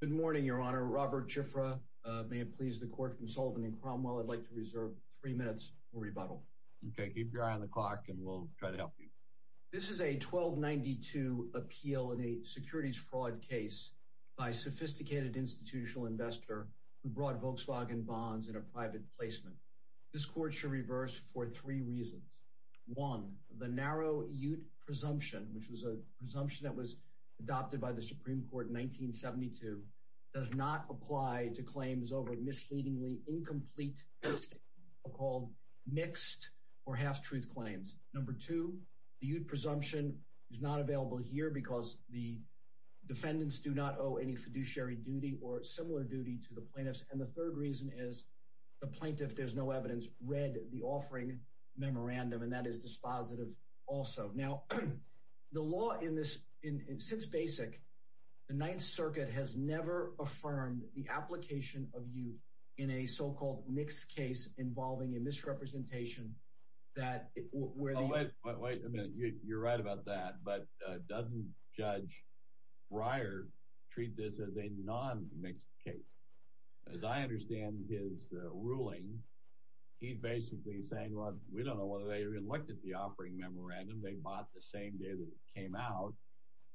Good morning, Your Honor. Robert Chifre, may it please the Court from Sullivan and Cromwell, I'd like to reserve three minutes for rebuttal. Okay, keep your eye on the clock and we'll try to help you. This is a 1292 appeal in a securities fraud case by a sophisticated institutional investor who brought Volkswagen bonds in a private placement. This Court should reverse for three reasons. One, the narrow Ute presumption, which was a presumption that was adopted by the Supreme Court in 1972, does not apply to claims over misleadingly incomplete, so-called mixed or half-truth claims. Number two, the Ute presumption is not available here because the defendants do not owe any fiduciary duty or similar duty to the plaintiffs. And the third reason is the plaintiff, there's no evidence, read the offering memorandum, and that is dispositive also. Now, the law in this—since Basic, the Ninth Circuit has never affirmed the application of Ute in a so-called mixed case involving a misrepresentation that— Wait a minute, you're right about that, but doesn't Judge Breyer treat this as a non-mixed case? As I understand his ruling, he's basically saying, well, we don't know whether they even looked at the offering memorandum, they bought the same day that it came out,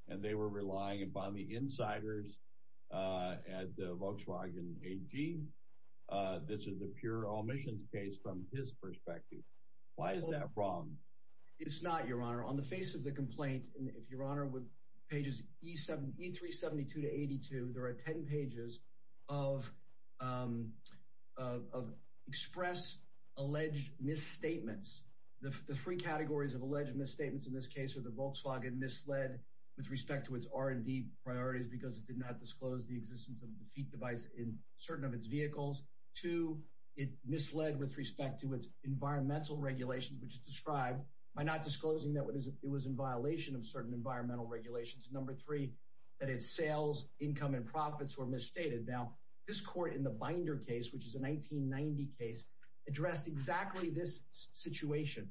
and they were relying upon the insiders at Volkswagen AG. This is a pure omissions case from his perspective. Why is that wrong? It's not, Your Honor. On the face of the complaint, if Your Honor would—pages E3-72 to 82, there are 10 pages of express alleged misstatements. The three categories of alleged misstatements in this case are that Volkswagen misled with respect to its R&D priorities because it did not disclose the existence of a defeat device in certain of its vehicles. Two, it misled with respect to its environmental regulations, which is described by not disclosing that it was in violation of certain environmental regulations. Number three, that its sales, income, and profits were misstated. Now, this court in the Binder case, which is a 1990 case, addressed exactly this situation.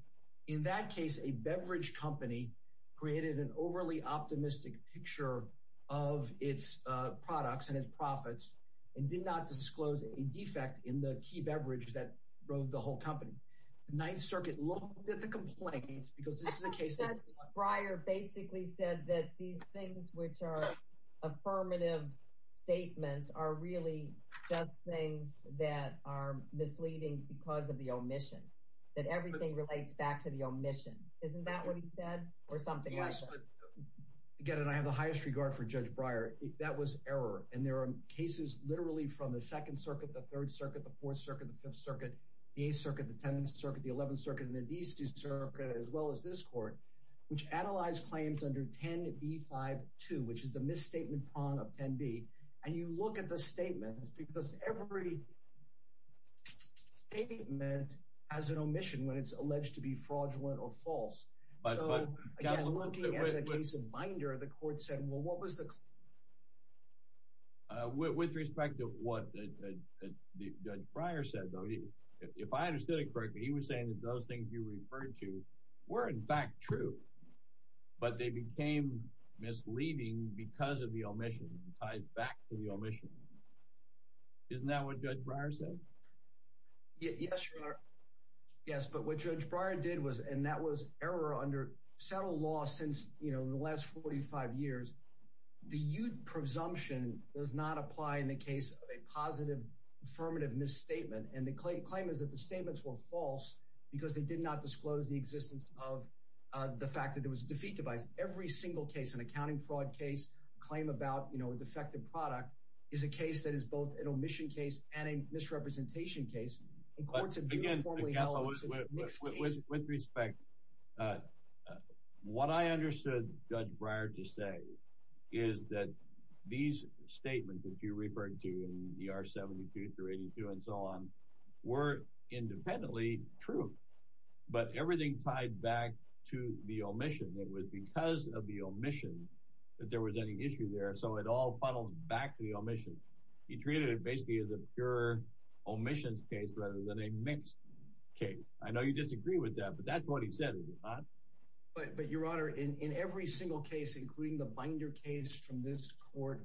In that case, a beverage company created an overly optimistic picture of its products and its profits and did not disclose a defect in the key beverage that drove the whole company. The Ninth Circuit looked at the complaint because this is a case— Judge Breyer basically said that these things which are affirmative statements are really just things that are misleading because of the omission, that everything relates back to the omission. Isn't that what he said or something like that? Yes, but again, and I have the highest regard for Judge Breyer, that was error. And there are cases literally from the Second Circuit, the Third Circuit, the Fourth Circuit, the Fifth Circuit, the Eighth Circuit, the Tenth Circuit, the Eleventh Circuit, and the Deceased Circuit, as well as this court, which analyzed claims under 10b-5-2, which is the misstatement prong of 10b. And you look at the statements because every statement has an omission when it's alleged to be fraudulent or false. So, again, looking at the case of Binder, the court said, well, what was the— With respect to what Judge Breyer said, though, if I understood it correctly, he was saying that those things you referred to were, in fact, true, but they became misleading because of the omission. It ties back to the omission. Isn't that what Judge Breyer said? Yes, Your Honor. Yes, but what Judge Breyer did was— and that was error under settled law since, you know, the last 45 years. The Ute presumption does not apply in the case of a positive affirmative misstatement, and the claim is that the statements were false because they did not disclose the existence of the fact that there was a defeat device. Every single case, an accounting fraud case, claim about, you know, a defective product, is a case that is both an omission case and a misrepresentation case. And courts have uniformly held that it's a mixed case. With respect, what I understood Judge Breyer to say is that these statements that you referred to in the R-72 through 82 and so on were independently true, but everything tied back to the omission. It was because of the omission that there was any issue there, so it all funnels back to the omission. He treated it basically as a pure omissions case rather than a mixed case. I know you disagree with that, but that's what he said, is it not? But, Your Honor, in every single case, including the Binder case from this court,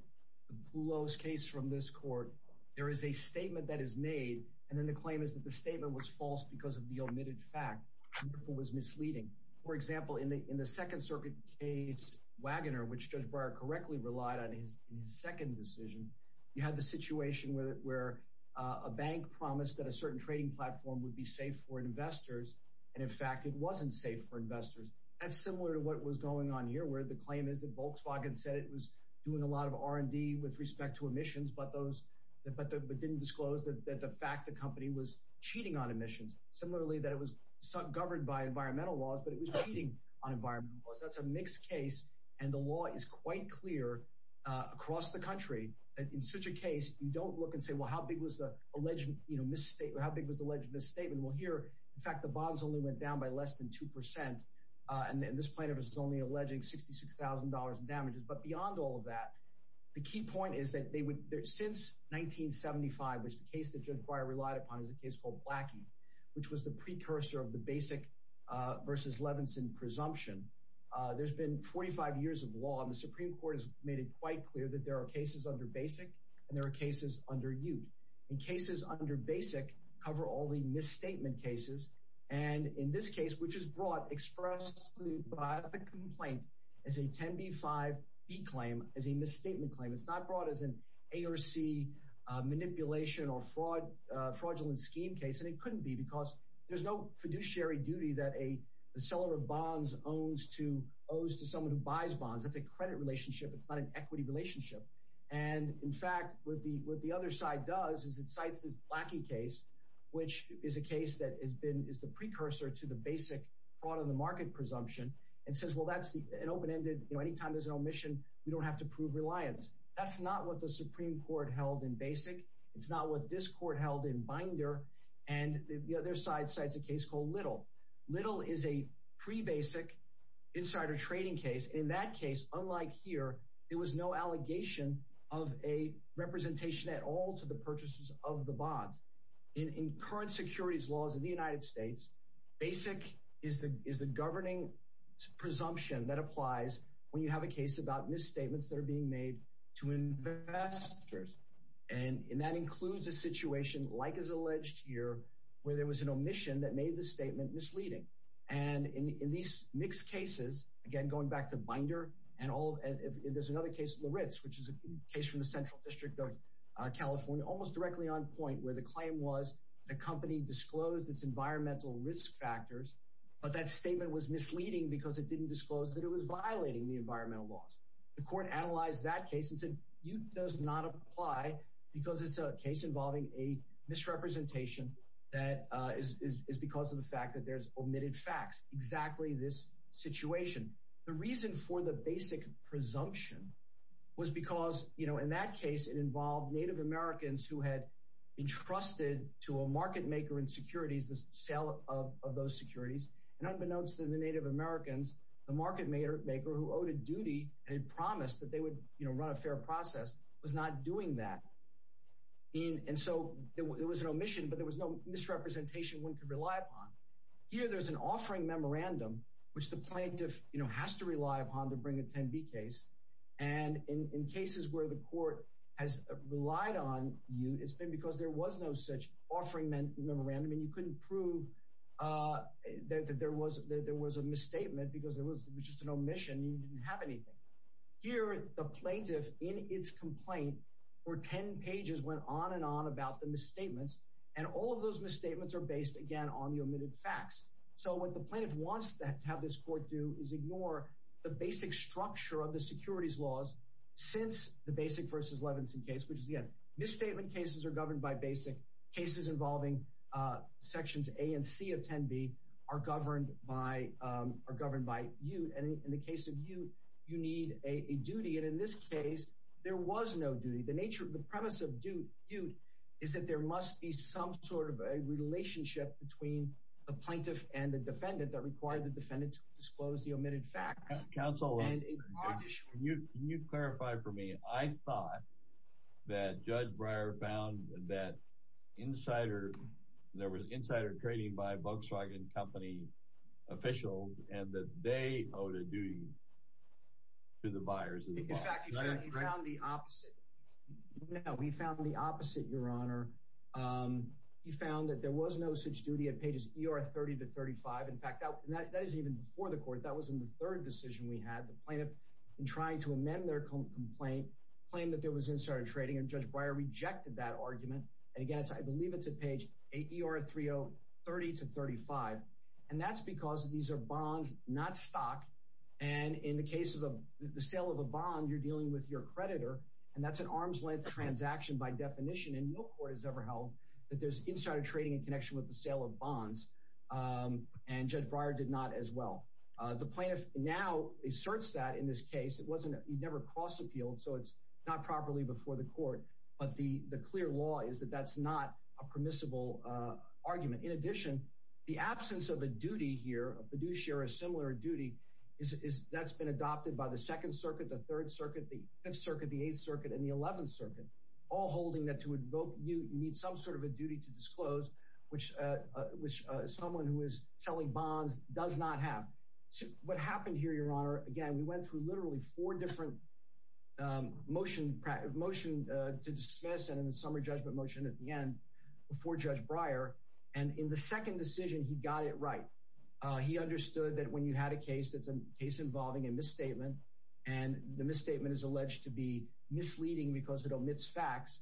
the Poulos case from this court, there is a statement that is made, and then the claim is that the statement was false because of the omitted fact. It was misleading. For example, in the Second Circuit case, Wagoner, which Judge Breyer correctly relied on in his second decision, you had the situation where a bank promised that a certain trading platform would be safe for investors, and, in fact, it wasn't safe for investors. That's similar to what was going on here, where the claim is that Volkswagen said it was doing a lot of R&D with respect to omissions, but didn't disclose that the fact the company was cheating on omissions. Similarly, that it was governed by environmental laws, but it was cheating on environmental laws. That's a mixed case, and the law is quite clear across the country. In such a case, you don't look and say, well, how big was the alleged misstatement? Well, here, in fact, the bonds only went down by less than 2%, and this plaintiff is only alleging $66,000 in damages. But beyond all of that, the key point is that since 1975, which the case that Judge Breyer relied upon is a case called Blackie, which was the precursor of the Basic versus Levinson presumption, there's been 45 years of law, and the Supreme Court has made it quite clear that there are cases under Basic, and there are cases under Ute. And cases under Basic cover all the misstatement cases, and in this case, which is brought expressly by the complaint, is a 10b-5b claim as a misstatement claim. It's not brought as an A or C manipulation or fraudulent scheme case, and it couldn't be because there's no fiduciary duty that a seller of bonds owes to someone who buys bonds. It's a credit relationship. It's not an equity relationship. And, in fact, what the other side does is it cites this Blackie case, which is a case that is the precursor to the Basic fraud-on-the-market presumption, and says, well, that's an open-ended, you know, anytime there's an omission, we don't have to prove reliance. That's not what the Supreme Court held in Basic. It's not what this court held in Binder. And the other side cites a case called Little. Little is a pre-Basic insider trading case. In that case, unlike here, there was no allegation of a representation at all to the purchases of the bonds. In current securities laws in the United States, Basic is the governing presumption that applies when you have a case about misstatements that are being made to investors, and that includes a situation, like is alleged here, where there was an omission that made the statement misleading. And in these mixed cases, again, going back to Binder and all, and there's another case, Laritz, which is a case from the Central District of California, almost directly on point, where the claim was the company disclosed its environmental risk factors, but that statement was misleading because it didn't disclose that it was violating the environmental laws. The court analyzed that case and said, it does not apply because it's a case involving a misrepresentation that is because of the fact that there's omitted facts, exactly this situation. The reason for the Basic presumption was because, you know, in that case, it involved Native Americans who had entrusted to a market maker in securities the sale of those securities. And unbeknownst to the Native Americans, the market maker who owed a duty and had promised that they would, you know, run a fair process was not doing that. And so, it was an omission, but there was no misrepresentation one could rely upon. Here, there's an offering memorandum, which the plaintiff, you know, has to rely upon to bring a 10B case. And in cases where the court has relied on you, it's been because there was no such offering memorandum, and you couldn't prove that there was a misstatement because it was just an omission, you didn't have anything. Here, the plaintiff, in its complaint, for 10 pages, went on and on about the misstatements, and all of those misstatements are based, again, on the omitted facts. So, what the plaintiff wants to have this court do is ignore the basic structure of the securities laws since the Basic v. Levinson case, which is, again, misstatement cases are governed by Basic. Cases involving Sections A and C of 10B are governed by Ute. And in the case of Ute, you need a duty. And in this case, there was no duty. The premise of Ute is that there must be some sort of a relationship between the plaintiff and the defendant that required the defendant to disclose the omitted facts. Counsel, can you clarify for me? I thought that Judge Breyer found that there was insider trading by Volkswagen company officials, and that they owed a duty to the buyers of the Volkswagen. In fact, he found the opposite. No, he found the opposite, Your Honor. He found that there was no such duty at pages ER30-35. In fact, that is even before the court. That was in the third decision we had. The plaintiff, in trying to amend their complaint, claimed that there was insider trading, and Judge Breyer rejected that argument. And again, I believe it's at page ER30-35. And that's because these are bonds, not stock. And in the case of the sale of a bond, you're dealing with your creditor, and that's an arm's-length transaction by definition. And no court has ever held that there's insider trading in connection with the sale of bonds. And Judge Breyer did not as well. The plaintiff now asserts that in this case. He never cross-appealed, so it's not properly before the court. But the clear law is that that's not a permissible argument. In addition, the absence of a duty here, a fiduciary similar duty, that's been adopted by the Second Circuit, the Third Circuit, the Fifth Circuit, the Eighth Circuit, and the Eleventh Circuit, all holding that to invoke you need some sort of a duty to disclose, which someone who is selling bonds does not have. What happened here, Your Honor, again, we went through literally four different motion to dismiss, and then the summary judgment motion at the end before Judge Breyer. And in the second decision, he got it right. He understood that when you had a case that's a case involving a misstatement, and the misstatement is alleged to be misleading because it omits facts,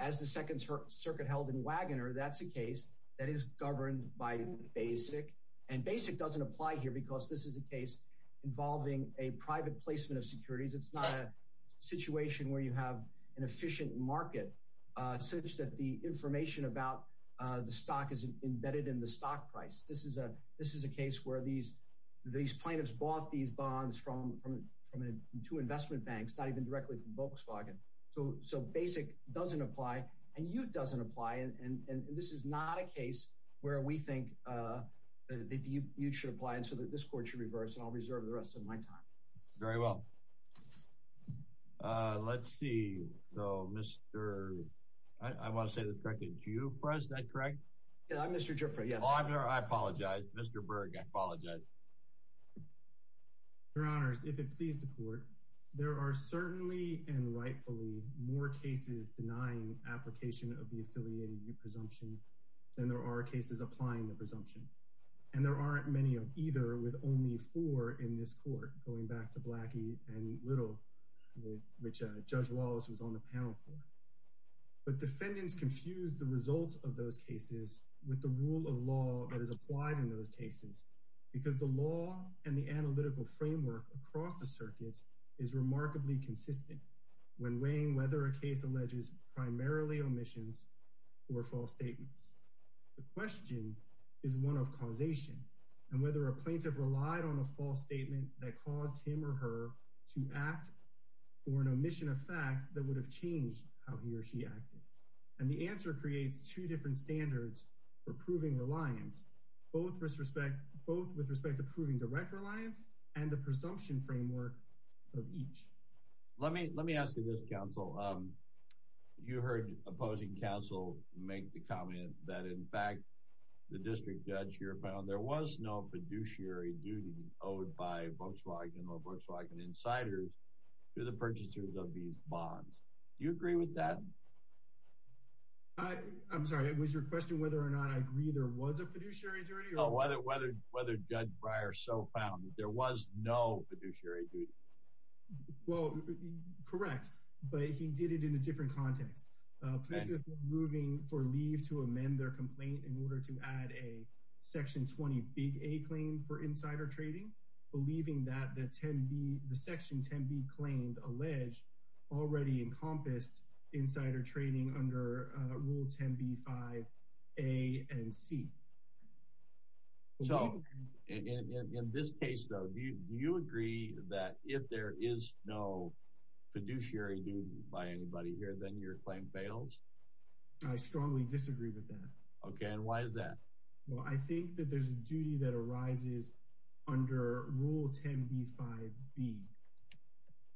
as the Second Circuit held in Wagoner, that's a case that is governed by BASIC. And BASIC doesn't apply here because this is a case involving a private placement of securities. It's not a situation where you have an efficient market such that the information about the stock is embedded in the stock price. This is a case where these plaintiffs bought these bonds from two investment banks, not even directly from Volkswagen. So BASIC doesn't apply, and you doesn't apply, and this is not a case where we think that you should apply, and so that this Court should reverse, and I'll reserve the rest of my time. Very well. Let's see. So, Mr. — I want to say this, correct? It's you for us, is that correct? Yeah, I'm Mr. Dreyfuss, yes. Oh, I'm sorry, I apologize. Mr. Berg, I apologize. Your Honors, if it please the Court, there are certainly and rightfully more cases denying application of the affiliated presumption than there are cases applying the presumption. And there aren't many of either, with only four in this Court, going back to Blackie and Little, which Judge Wallace was on the panel for. But defendants confuse the results of those cases with the rule of law that is applied in those cases because the law and the analytical framework across the circuit is remarkably consistent when weighing whether a case alleges primarily omissions or false statements. The question is one of causation, and whether a plaintiff relied on a false statement that caused him or her to act or an omission of fact that would have changed how he or she acted. And the answer creates two different standards for proving reliance, both with respect to proving direct reliance and the presumption framework of each. Let me ask you this, Counsel. You heard opposing counsel make the comment that, in fact, the District Judge here found there was no fiduciary duty owed by Volkswagen or Volkswagen insiders to the purchasers of these bonds. Do you agree with that? I'm sorry, it was your question whether or not I agree there was a fiduciary duty? No, whether Judge Breyer so found that there was no fiduciary duty. Well, correct, but he did it in a different context. Plaintiffs were moving for leave to amend their complaint in order to add a Section 20 Big A claim for insider trading, believing that the Section 10b claimed alleged already encompassed insider trading under Rule 10b-5a and c. So, in this case, though, do you agree that if there is no fiduciary duty by anybody here, then your claim bails? I strongly disagree with that. Okay, and why is that? Well, I think that there's a duty that arises under Rule 10b-5b,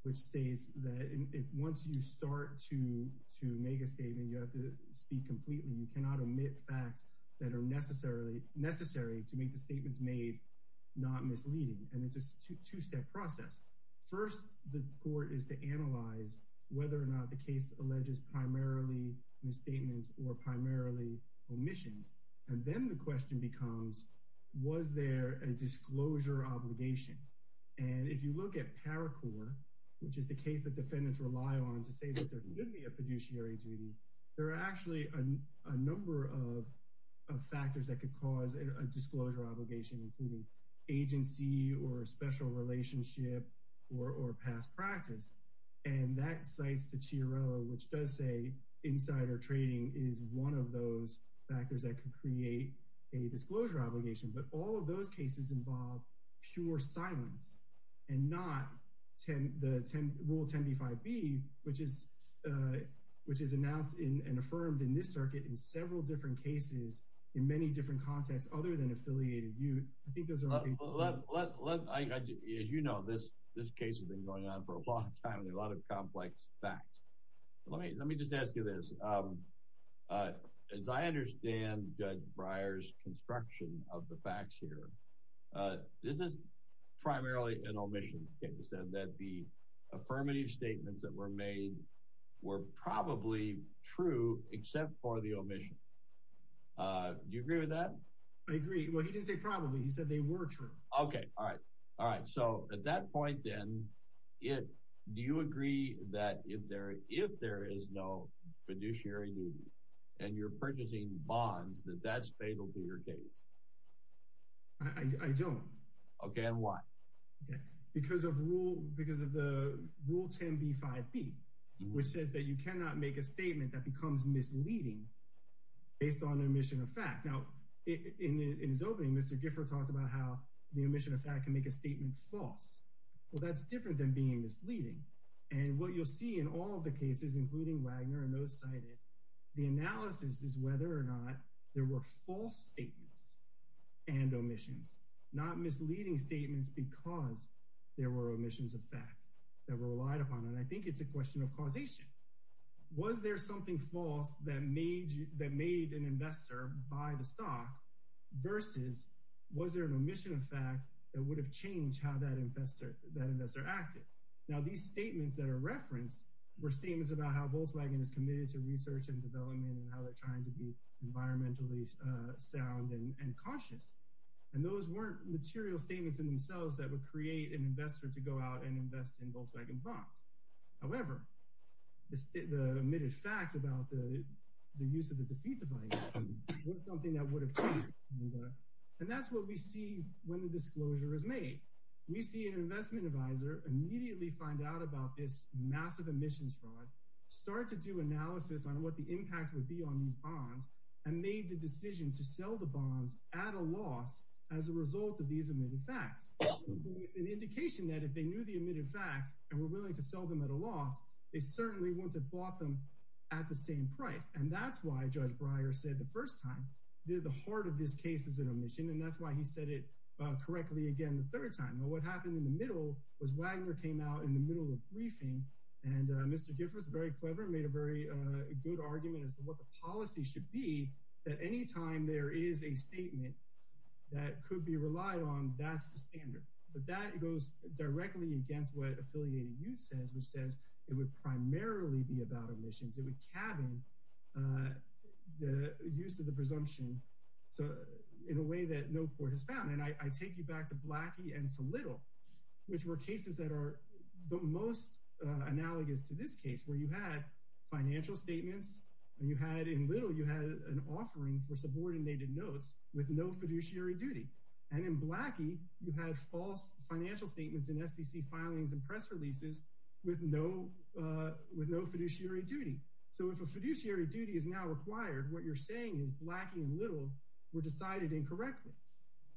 which states that once you start to make a statement, you have to speak completely. You cannot omit facts that are necessary to make the statements made not misleading, and it's a two-step process. First, the court is to analyze whether or not the case alleges primarily misstatements or primarily omissions, and then the question becomes, was there a disclosure obligation? And if you look at PARACOR, which is the case that defendants rely on to say that there could be a fiduciary duty, there are actually a number of factors that could cause a disclosure obligation, including agency or special relationship or past practice. And that cites the Chiarello, which does say insider trading is one of those factors that could create a disclosure obligation. But all of those cases involve pure silence and not Rule 10b-5b, which is announced and affirmed in this circuit in several different cases in many different contexts other than affiliated youth. I think those are— As you know, this case has been going on for a long time and a lot of complex facts. Let me just ask you this. As I understand Judge Breyer's construction of the facts here, this is primarily an omission case, that the affirmative statements that were made were probably true except for the omission. Do you agree with that? I agree. Well, he didn't say probably. He said they were true. Okay. All right. All right. So at that point, then, do you agree that if there is no fiduciary duty and you're purchasing bonds, that that's fatal to your case? I don't. Okay. And why? Because of the Rule 10b-5b, which says that you cannot make a statement that becomes misleading based on omission of fact. Now, in his opening, Mr. Gifford talked about how the omission of fact can make a statement false. Well, that's different than being misleading. And what you'll see in all the cases, including Wagner and those cited, the analysis is whether or not there were false statements and omissions, not misleading statements because there were omissions of fact that were relied upon. And I think it's a question of causation. Was there something false that made an investor buy the stock versus was there an omission of fact that would have changed how that investor acted? Now, these statements that are referenced were statements about how Volkswagen is committed to research and development and how they're trying to be environmentally sound and conscious. And those weren't material statements in themselves that would create an investor to go out and invest in Volkswagen bonds. However, the omitted facts about the use of the defeat device was something that would have changed. And that's what we see when the disclosure is made. We see an investment advisor immediately find out about this massive emissions fraud, start to do analysis on what the impact would be on these bonds, and made the decision to sell the bonds at a loss as a result of these omitted facts. It's an indication that if they knew the omitted facts and were willing to sell them at a loss, they certainly wouldn't have bought them at the same price. And that's why Judge Breyer said the first time that the heart of this case is an omission, and that's why he said it correctly again the third time. Now, what happened in the middle was Wagner came out in the middle of briefing, and Mr. Giffords, very clever, made a very good argument as to what the policy should be, that anytime there is a statement that could be relied on, that's the standard. But that goes directly against what Affiliated Youth says, which says it would primarily be about omissions. It would cabin the use of the presumption in a way that no court has found. And I take you back to Blackie and to Little, which were cases that are the most analogous to this case, where you had financial statements, and you had, in Little, you had an offering for subordinated notes with no fiduciary duty. And in Blackie, you had false financial statements in SEC filings and press releases with no fiduciary duty. So if a fiduciary duty is now required, what you're saying is Blackie and Little were decided incorrectly.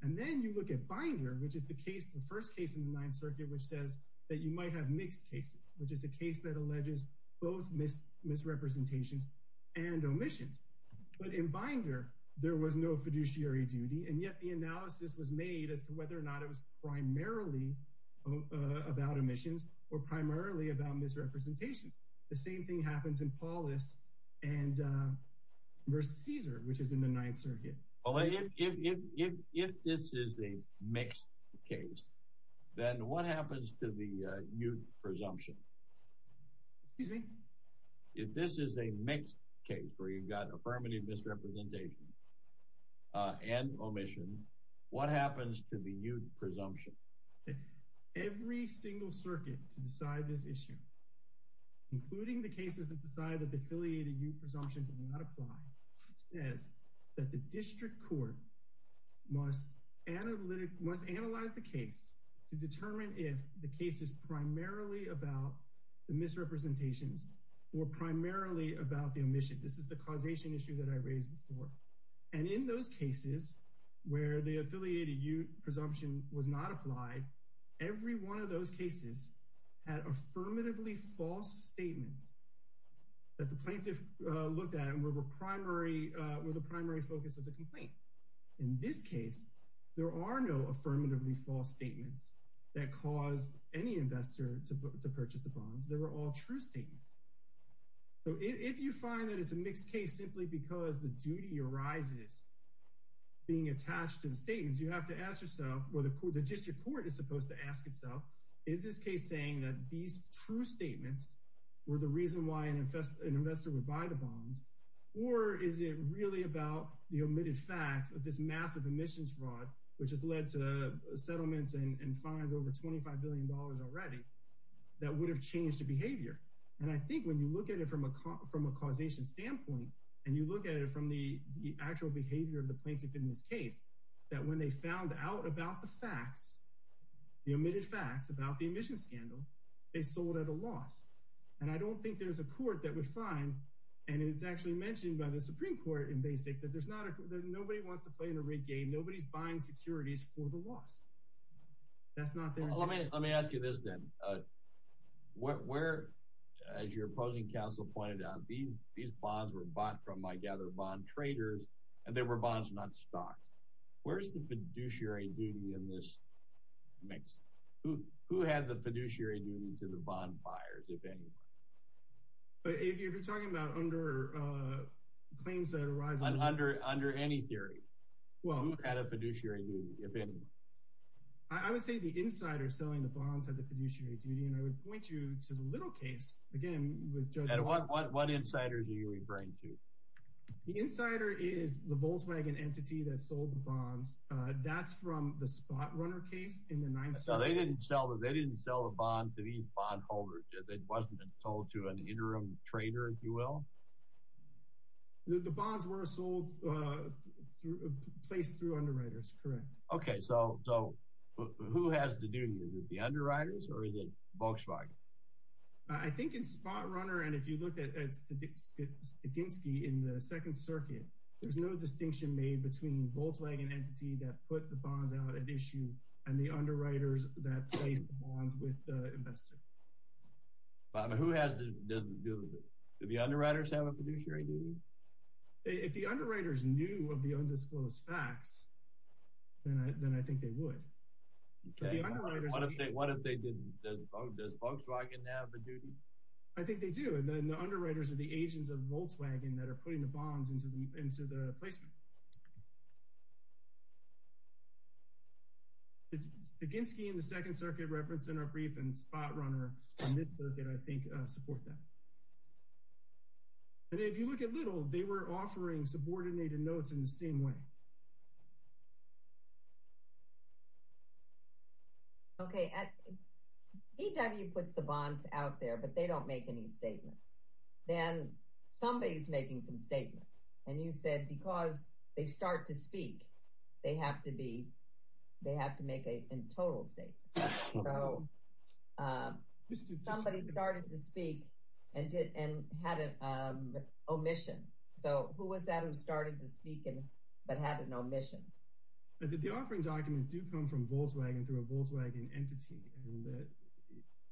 And then you look at Binder, which is the case, the first case in the Ninth Circuit, which says that you might have mixed cases, which is a case that alleges both misrepresentations and omissions. But in Binder, there was no fiduciary duty, and yet the analysis was made as to whether or not it was primarily about omissions or primarily about misrepresentations. The same thing happens in Paulus versus Caesar, which is in the Ninth Circuit. Well, if this is a mixed case, then what happens to the youth presumption? Excuse me? If this is a mixed case, where you've got affirmative misrepresentation and omission, what happens to the youth presumption? Every single circuit to decide this issue, including the cases that decide that the affiliated youth presumption did not apply, says that the district court must analyze the case to determine if the case is primarily about the misrepresentations or primarily about the omission. This is the causation issue that I raised before. And in those cases where the affiliated youth presumption was not applied, every one of those cases had affirmatively false statements that the plaintiff looked at and were the primary focus of the complaint. In this case, there are no affirmatively false statements that caused any investor to purchase the bonds. They were all true statements. So if you find that it's a mixed case simply because the duty arises being attached to the statements, you have to ask yourself, or the district court is supposed to ask itself, is this case saying that these true statements were the reason why an investor would buy the bonds, or is it really about the omitted facts of this massive emissions fraud, which has led to settlements and fines over $25 billion already, that would have changed the behavior? And I think when you look at it from a causation standpoint, and you look at it from the actual behavior of the plaintiff in this case, that when they found out about the facts, the omitted facts about the emissions scandal, they sold at a loss. And I don't think there's a court that would find, and it's actually mentioned by the Supreme Court in Basic, that nobody wants to play in a rig game. Nobody's buying securities for the loss. That's not their intent. Let me ask you this then. Where, as your opposing counsel pointed out, these bonds were bought from, I gather, bond traders, and they were bonds, not stocks. Where's the fiduciary duty in this mix? Who had the fiduciary duty to the bond buyers, if anyone? If you're talking about under claims that arise— Under any theory. Who had a fiduciary duty, if anyone? I would say the insider selling the bonds had the fiduciary duty, and I would point you to the little case, again, with Judge— And what insiders are you referring to? The insider is the Volkswagen entity that sold the bonds. That's from the Spotrunner case in the 9th Circuit. So they didn't sell the bond to these bondholders. It wasn't sold to an interim trader, if you will? The bonds were sold, placed through underwriters, correct. Okay, so who has the duty? Is it the underwriters, or is it Volkswagen? I think in Spotrunner, and if you look at Stakinski in the 2nd Circuit, there's no distinction made between the Volkswagen entity that put the bonds out at issue and the underwriters that placed the bonds with the investor. But who has the duty? Do the underwriters have a fiduciary duty? If the underwriters knew of the undisclosed facts, then I think they would. Okay, what if they didn't? Does Volkswagen have the duty? I think they do, and then the underwriters are the agents of Volkswagen that are putting the bonds into the placement. Stakinski in the 2nd Circuit referenced in our brief, and Spotrunner in this circuit, I think, support that. And if you look at Little, they were offering subordinated notes in the same way. Okay, DW puts the bonds out there, but they don't make any statements. Then somebody's making some statements, and you said because they start to speak, they have to make a total statement. So somebody started to speak and had an omission. So who was that who started to speak but had an omission? The offering documents do come from Volkswagen through a Volkswagen entity.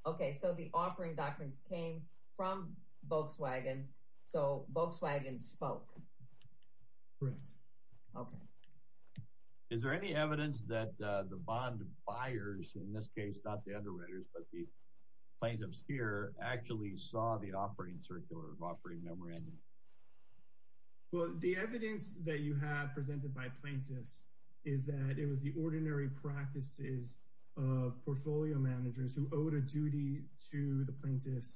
Okay, so the offering documents came from Volkswagen, so Volkswagen spoke. Correct. Okay. Is there any evidence that the bond buyers, in this case, not the underwriters, but the plaintiffs here, actually saw the offering circuit or offering memorandum? Well, the evidence that you have presented by plaintiffs is that it was the ordinary practices of portfolio managers who owed a duty to the plaintiffs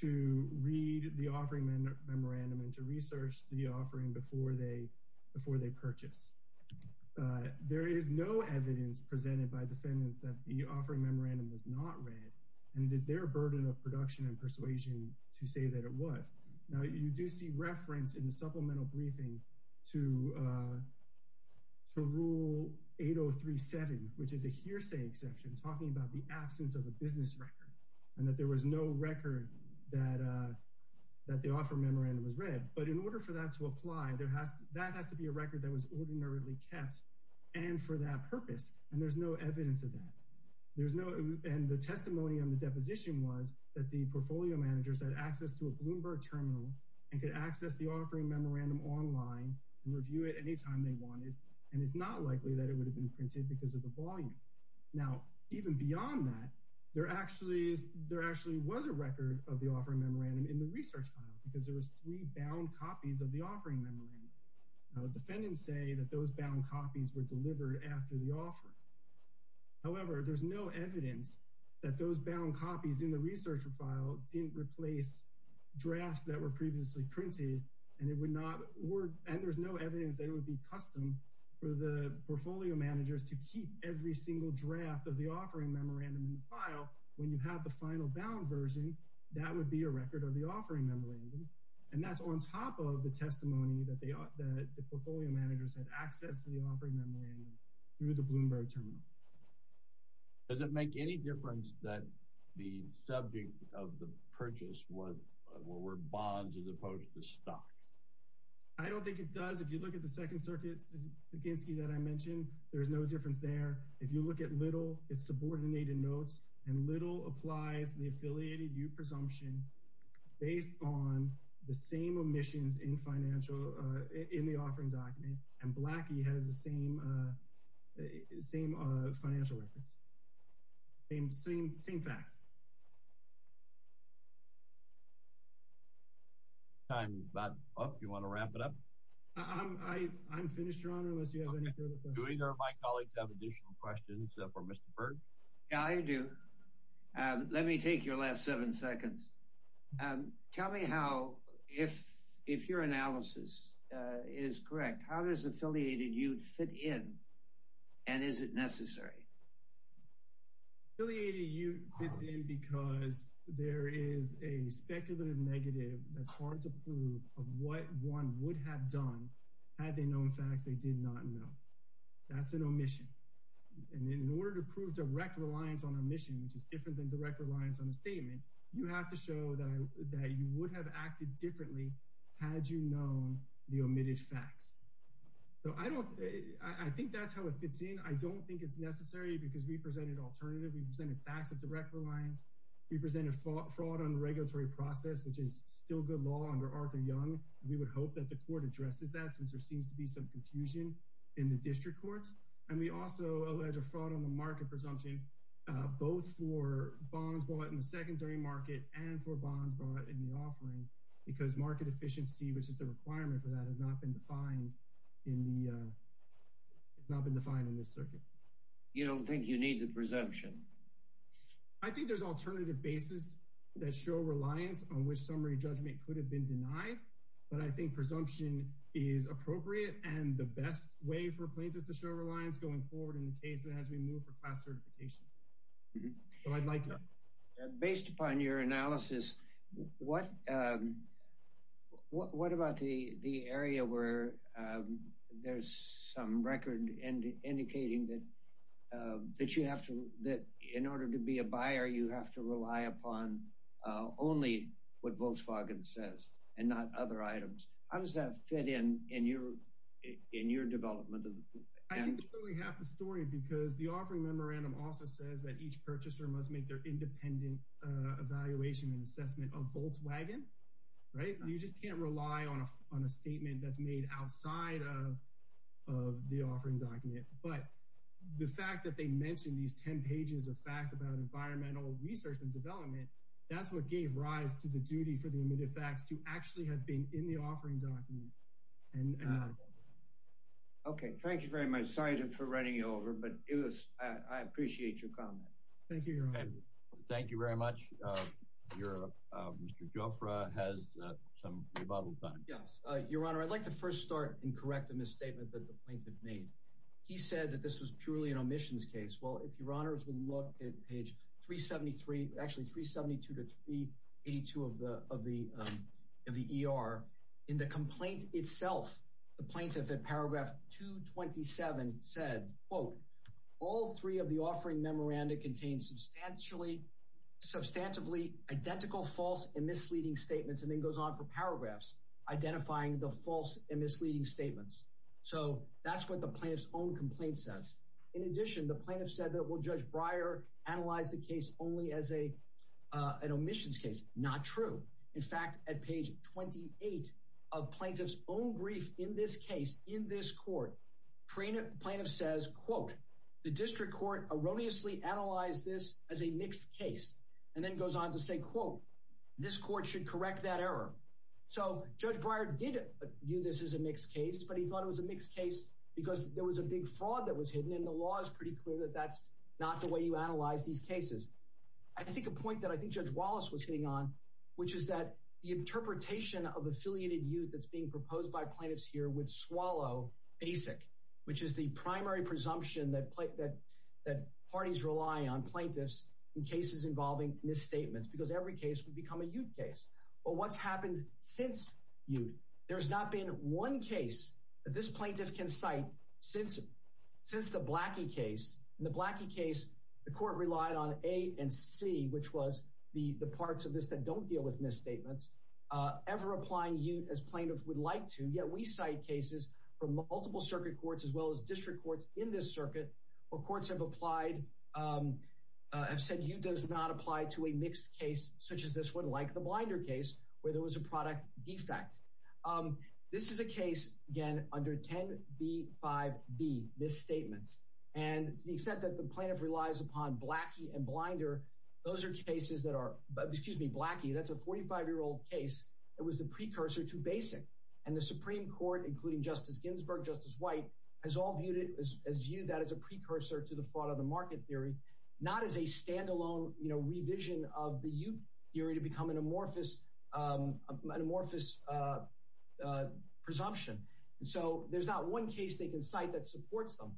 to read the offering memorandum and to research the offering before they purchase. There is no evidence presented by defendants that the offering memorandum was not read, and it is their burden of production and persuasion to say that it was. Now, you do see reference in the supplemental briefing to Rule 8037, which is a hearsay exception, talking about the absence of a business record, and that there was no record that the offering memorandum was read. But in order for that to apply, that has to be a record that was ordinarily kept, and for that purpose, and there's no evidence of that. There's no—and the testimony on the deposition was that the portfolio managers had access to a Bloomberg terminal and could access the offering memorandum online and review it anytime they wanted, and it's not likely that it would have been printed because of the volume. Now, even beyond that, there actually is— there actually was a record of the offering memorandum in the research file because there was three bound copies of the offering memorandum. Now, defendants say that those bound copies were delivered after the offering. However, there's no evidence that those bound copies in the research file didn't replace drafts that were previously printed, and it would not work— and there's no evidence that it would be custom for the portfolio managers to keep every single draft of the offering memorandum in the file. When you have the final bound version, that would be a record of the offering memorandum, and that's on top of the testimony that they— that the portfolio managers had access to the offering memorandum through the Bloomberg terminal. Does it make any difference that the subject of the purchase was— were bonds as opposed to stocks? I don't think it does. If you look at the Second Circuit's—the Stankinsky that I mentioned, there's no difference there. If you look at Little, it's subordinated notes, and Little applies the affiliated U presumption based on the same omissions in financial—in the offering document, and Blackie has the same financial records. Same facts. Time's about up. Do you want to wrap it up? I'm finished, Your Honor, unless you have any further questions. Do either of my colleagues have additional questions for Mr. Berg? Yeah, I do. Let me take your last seven seconds. Tell me how—if your analysis is correct, how does affiliated U fit in, and is it necessary? Affiliated U fits in because there is a speculative negative that's hard to prove of what one would have done had they known facts they did not know. That's an omission. And in order to prove direct reliance on omission, which is different than direct reliance on a statement, you have to show that you would have acted differently had you known the omitted facts. So I don't—I think that's how it fits in. I don't think it's necessary because we presented alternative. We presented facts of direct reliance. We presented fraud on the regulatory process, which is still good law under Arthur Young. We would hope that the court addresses that since there seems to be some confusion in the district courts. And we also allege a fraud on the market presumption, both for bonds bought in the secondary market and for bonds bought in the offering, because market efficiency, which is the requirement for that, has not been defined in the— has not been defined in this circuit. You don't think you need the presumption? I think there's alternative basis that show reliance on which summary judgment could have been denied, but I think presumption is appropriate and the best way for plaintiffs to show reliance going forward in the case as we move for class certification. So I'd like to— Based upon your analysis, what about the area where there's some record indicating that you have to—that in order to be a buyer, you have to rely upon only what Volkswagen says and not other items? How does that fit in your development? I think it's really half the story because the offering memorandum also says that each purchaser must make their independent evaluation and assessment of Volkswagen, right? You just can't rely on a statement that's made outside of the offering document. But the fact that they mention these 10 pages of facts about environmental research and development, that's what gave rise to the duty for the omitted facts to actually have been in the offering document. Okay. Thank you very much. Sorry for running you over, but I appreciate your comment. Thank you, Your Honor. Thank you very much. Mr. Gioffre has some rebuttal time. Yes. Your Honor, I'd like to first start and correct a misstatement that the plaintiff made. He said that this was purely an omissions case. Well, if Your Honors will look at page 373, actually 372 to 382 of the ER, in the complaint itself, the plaintiff at paragraph 227 said, quote, all three of the offering memorandum contain substantially identical false and misleading statements, and then goes on for paragraphs, identifying the false and misleading statements. So that's what the plaintiff's own complaint says. In addition, the plaintiff said that, well, Judge Breyer analyzed the case only as an omissions case. Not true. In fact, at page 28 of plaintiff's own brief in this case, in this court, plaintiff says, quote, the district court erroneously analyzed this as a mixed case, and then goes on to say, quote, this court should correct that error. So Judge Breyer did view this as a mixed case, but he thought it was a mixed case because there was a big fraud that was hidden, and the law is pretty clear that that's not the way you analyze these cases. I think a point that I think Judge Wallace was hitting on, which is that the interpretation of affiliated youth that's being proposed by plaintiffs here would swallow ASIC, which is the primary presumption that parties rely on plaintiffs in cases involving misstatements, because every case would become a youth case. But what's happened since youth, there's not been one case that this plaintiff can cite since the Blackie case. In the Blackie case, the court relied on A and C, which was the parts of this that don't deal with misstatements. Ever applying youth as plaintiff would like to, yet we cite cases from multiple circuit courts as well as district courts in this circuit where courts have said youth does not apply to a mixed case such as this one, like the Blinder case, where there was a product defect. This is a case, again, under 10B5B, misstatements. And the extent that the plaintiff relies upon Blackie and Blinder, those are cases that are, excuse me, Blackie, that's a 45-year-old case that was the precursor to BASIC. And the Supreme Court, including Justice Ginsburg, Justice White, has viewed that as a precursor to the fraud on the market theory, not as a standalone revision of the youth theory to become an amorphous presumption. And so there's not one case they can cite that supports them.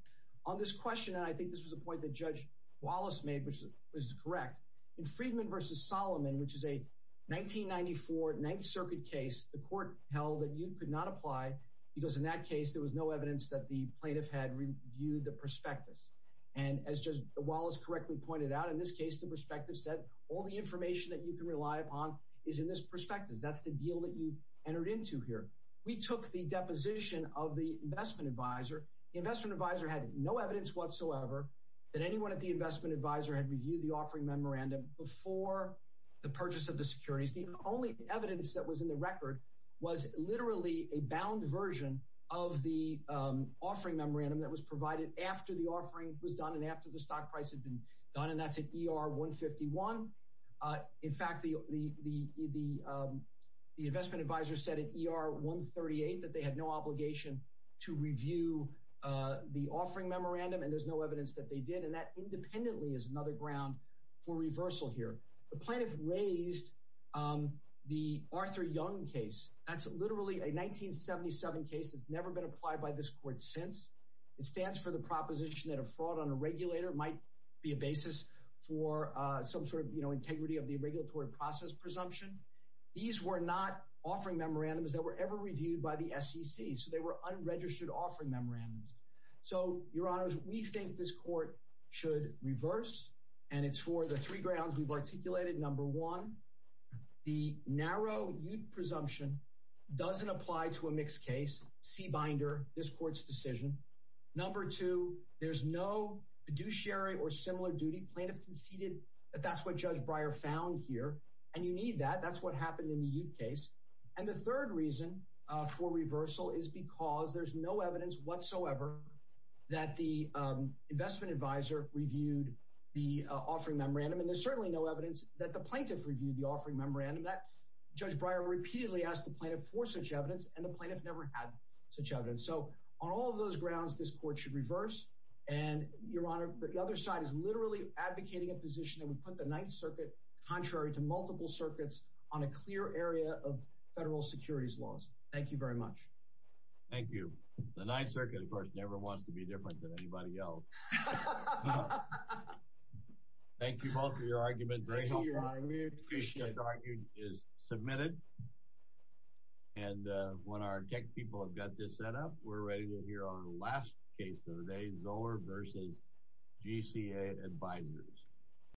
On this question, and I think this was a point that Judge Wallace made, which is correct, in Friedman v. Solomon, which is a 1994 Ninth Circuit case, the court held that youth could not apply because in that case, there was no evidence that the plaintiff had reviewed the prospectus. And as Judge Wallace correctly pointed out, in this case, the prospectus said all the information that you can rely upon is in this prospectus, that's the deal that you've entered into here. We took the deposition of the investment advisor. The investment advisor had no evidence whatsoever that anyone at the investment advisor had reviewed the offering memorandum before the purchase of the securities. The only evidence that was in the record was literally a bound version of the offering memorandum that was provided after the offering was done and after the stock price had been done, and that's at ER 151. In fact, the investment advisor said at ER 138 that they had no obligation to review the offering memorandum and there's no evidence that they did, and that independently is another ground for reversal here. The plaintiff raised the Arthur Young case. That's literally a 1977 case that's never been applied by this court since. It stands for the proposition that a fraud on a regulator might be a basis for some sort of integrity of the regulatory process presumption. These were not offering memorandums that were ever reviewed by the SEC, so they were unregistered offering memorandums. So, Your Honors, we think this court should reverse, and it's for the three grounds we've articulated. Number one, the narrow UTE presumption doesn't apply to a mixed case, C binder, this court's decision. Number two, there's no fiduciary or similar duty. Plaintiff conceded that that's what Judge Breyer found here, and you need that. That's what happened in the UTE case. And the third reason for reversal is because there's no evidence whatsoever that the investment advisor reviewed the offering memorandum, and there's certainly no evidence that the plaintiff reviewed the offering memorandum. Judge Breyer repeatedly asked the plaintiff for such evidence and the plaintiff never had such evidence. So, on all of those grounds, this court should reverse, and, Your Honor, the other side is literally advocating a position that would put the Ninth Circuit, contrary to multiple circuits, on a clear area of federal securities laws. Thank you very much. Thank you. The Ninth Circuit, of course, never wants to be different than anybody else. Thank you both for your argument. Thank you, Your Honor. We appreciate it. The argument is submitted, and when our tech people have got this set up, we're ready to hear on the last case of the day, Zoller v. GCA Advisors.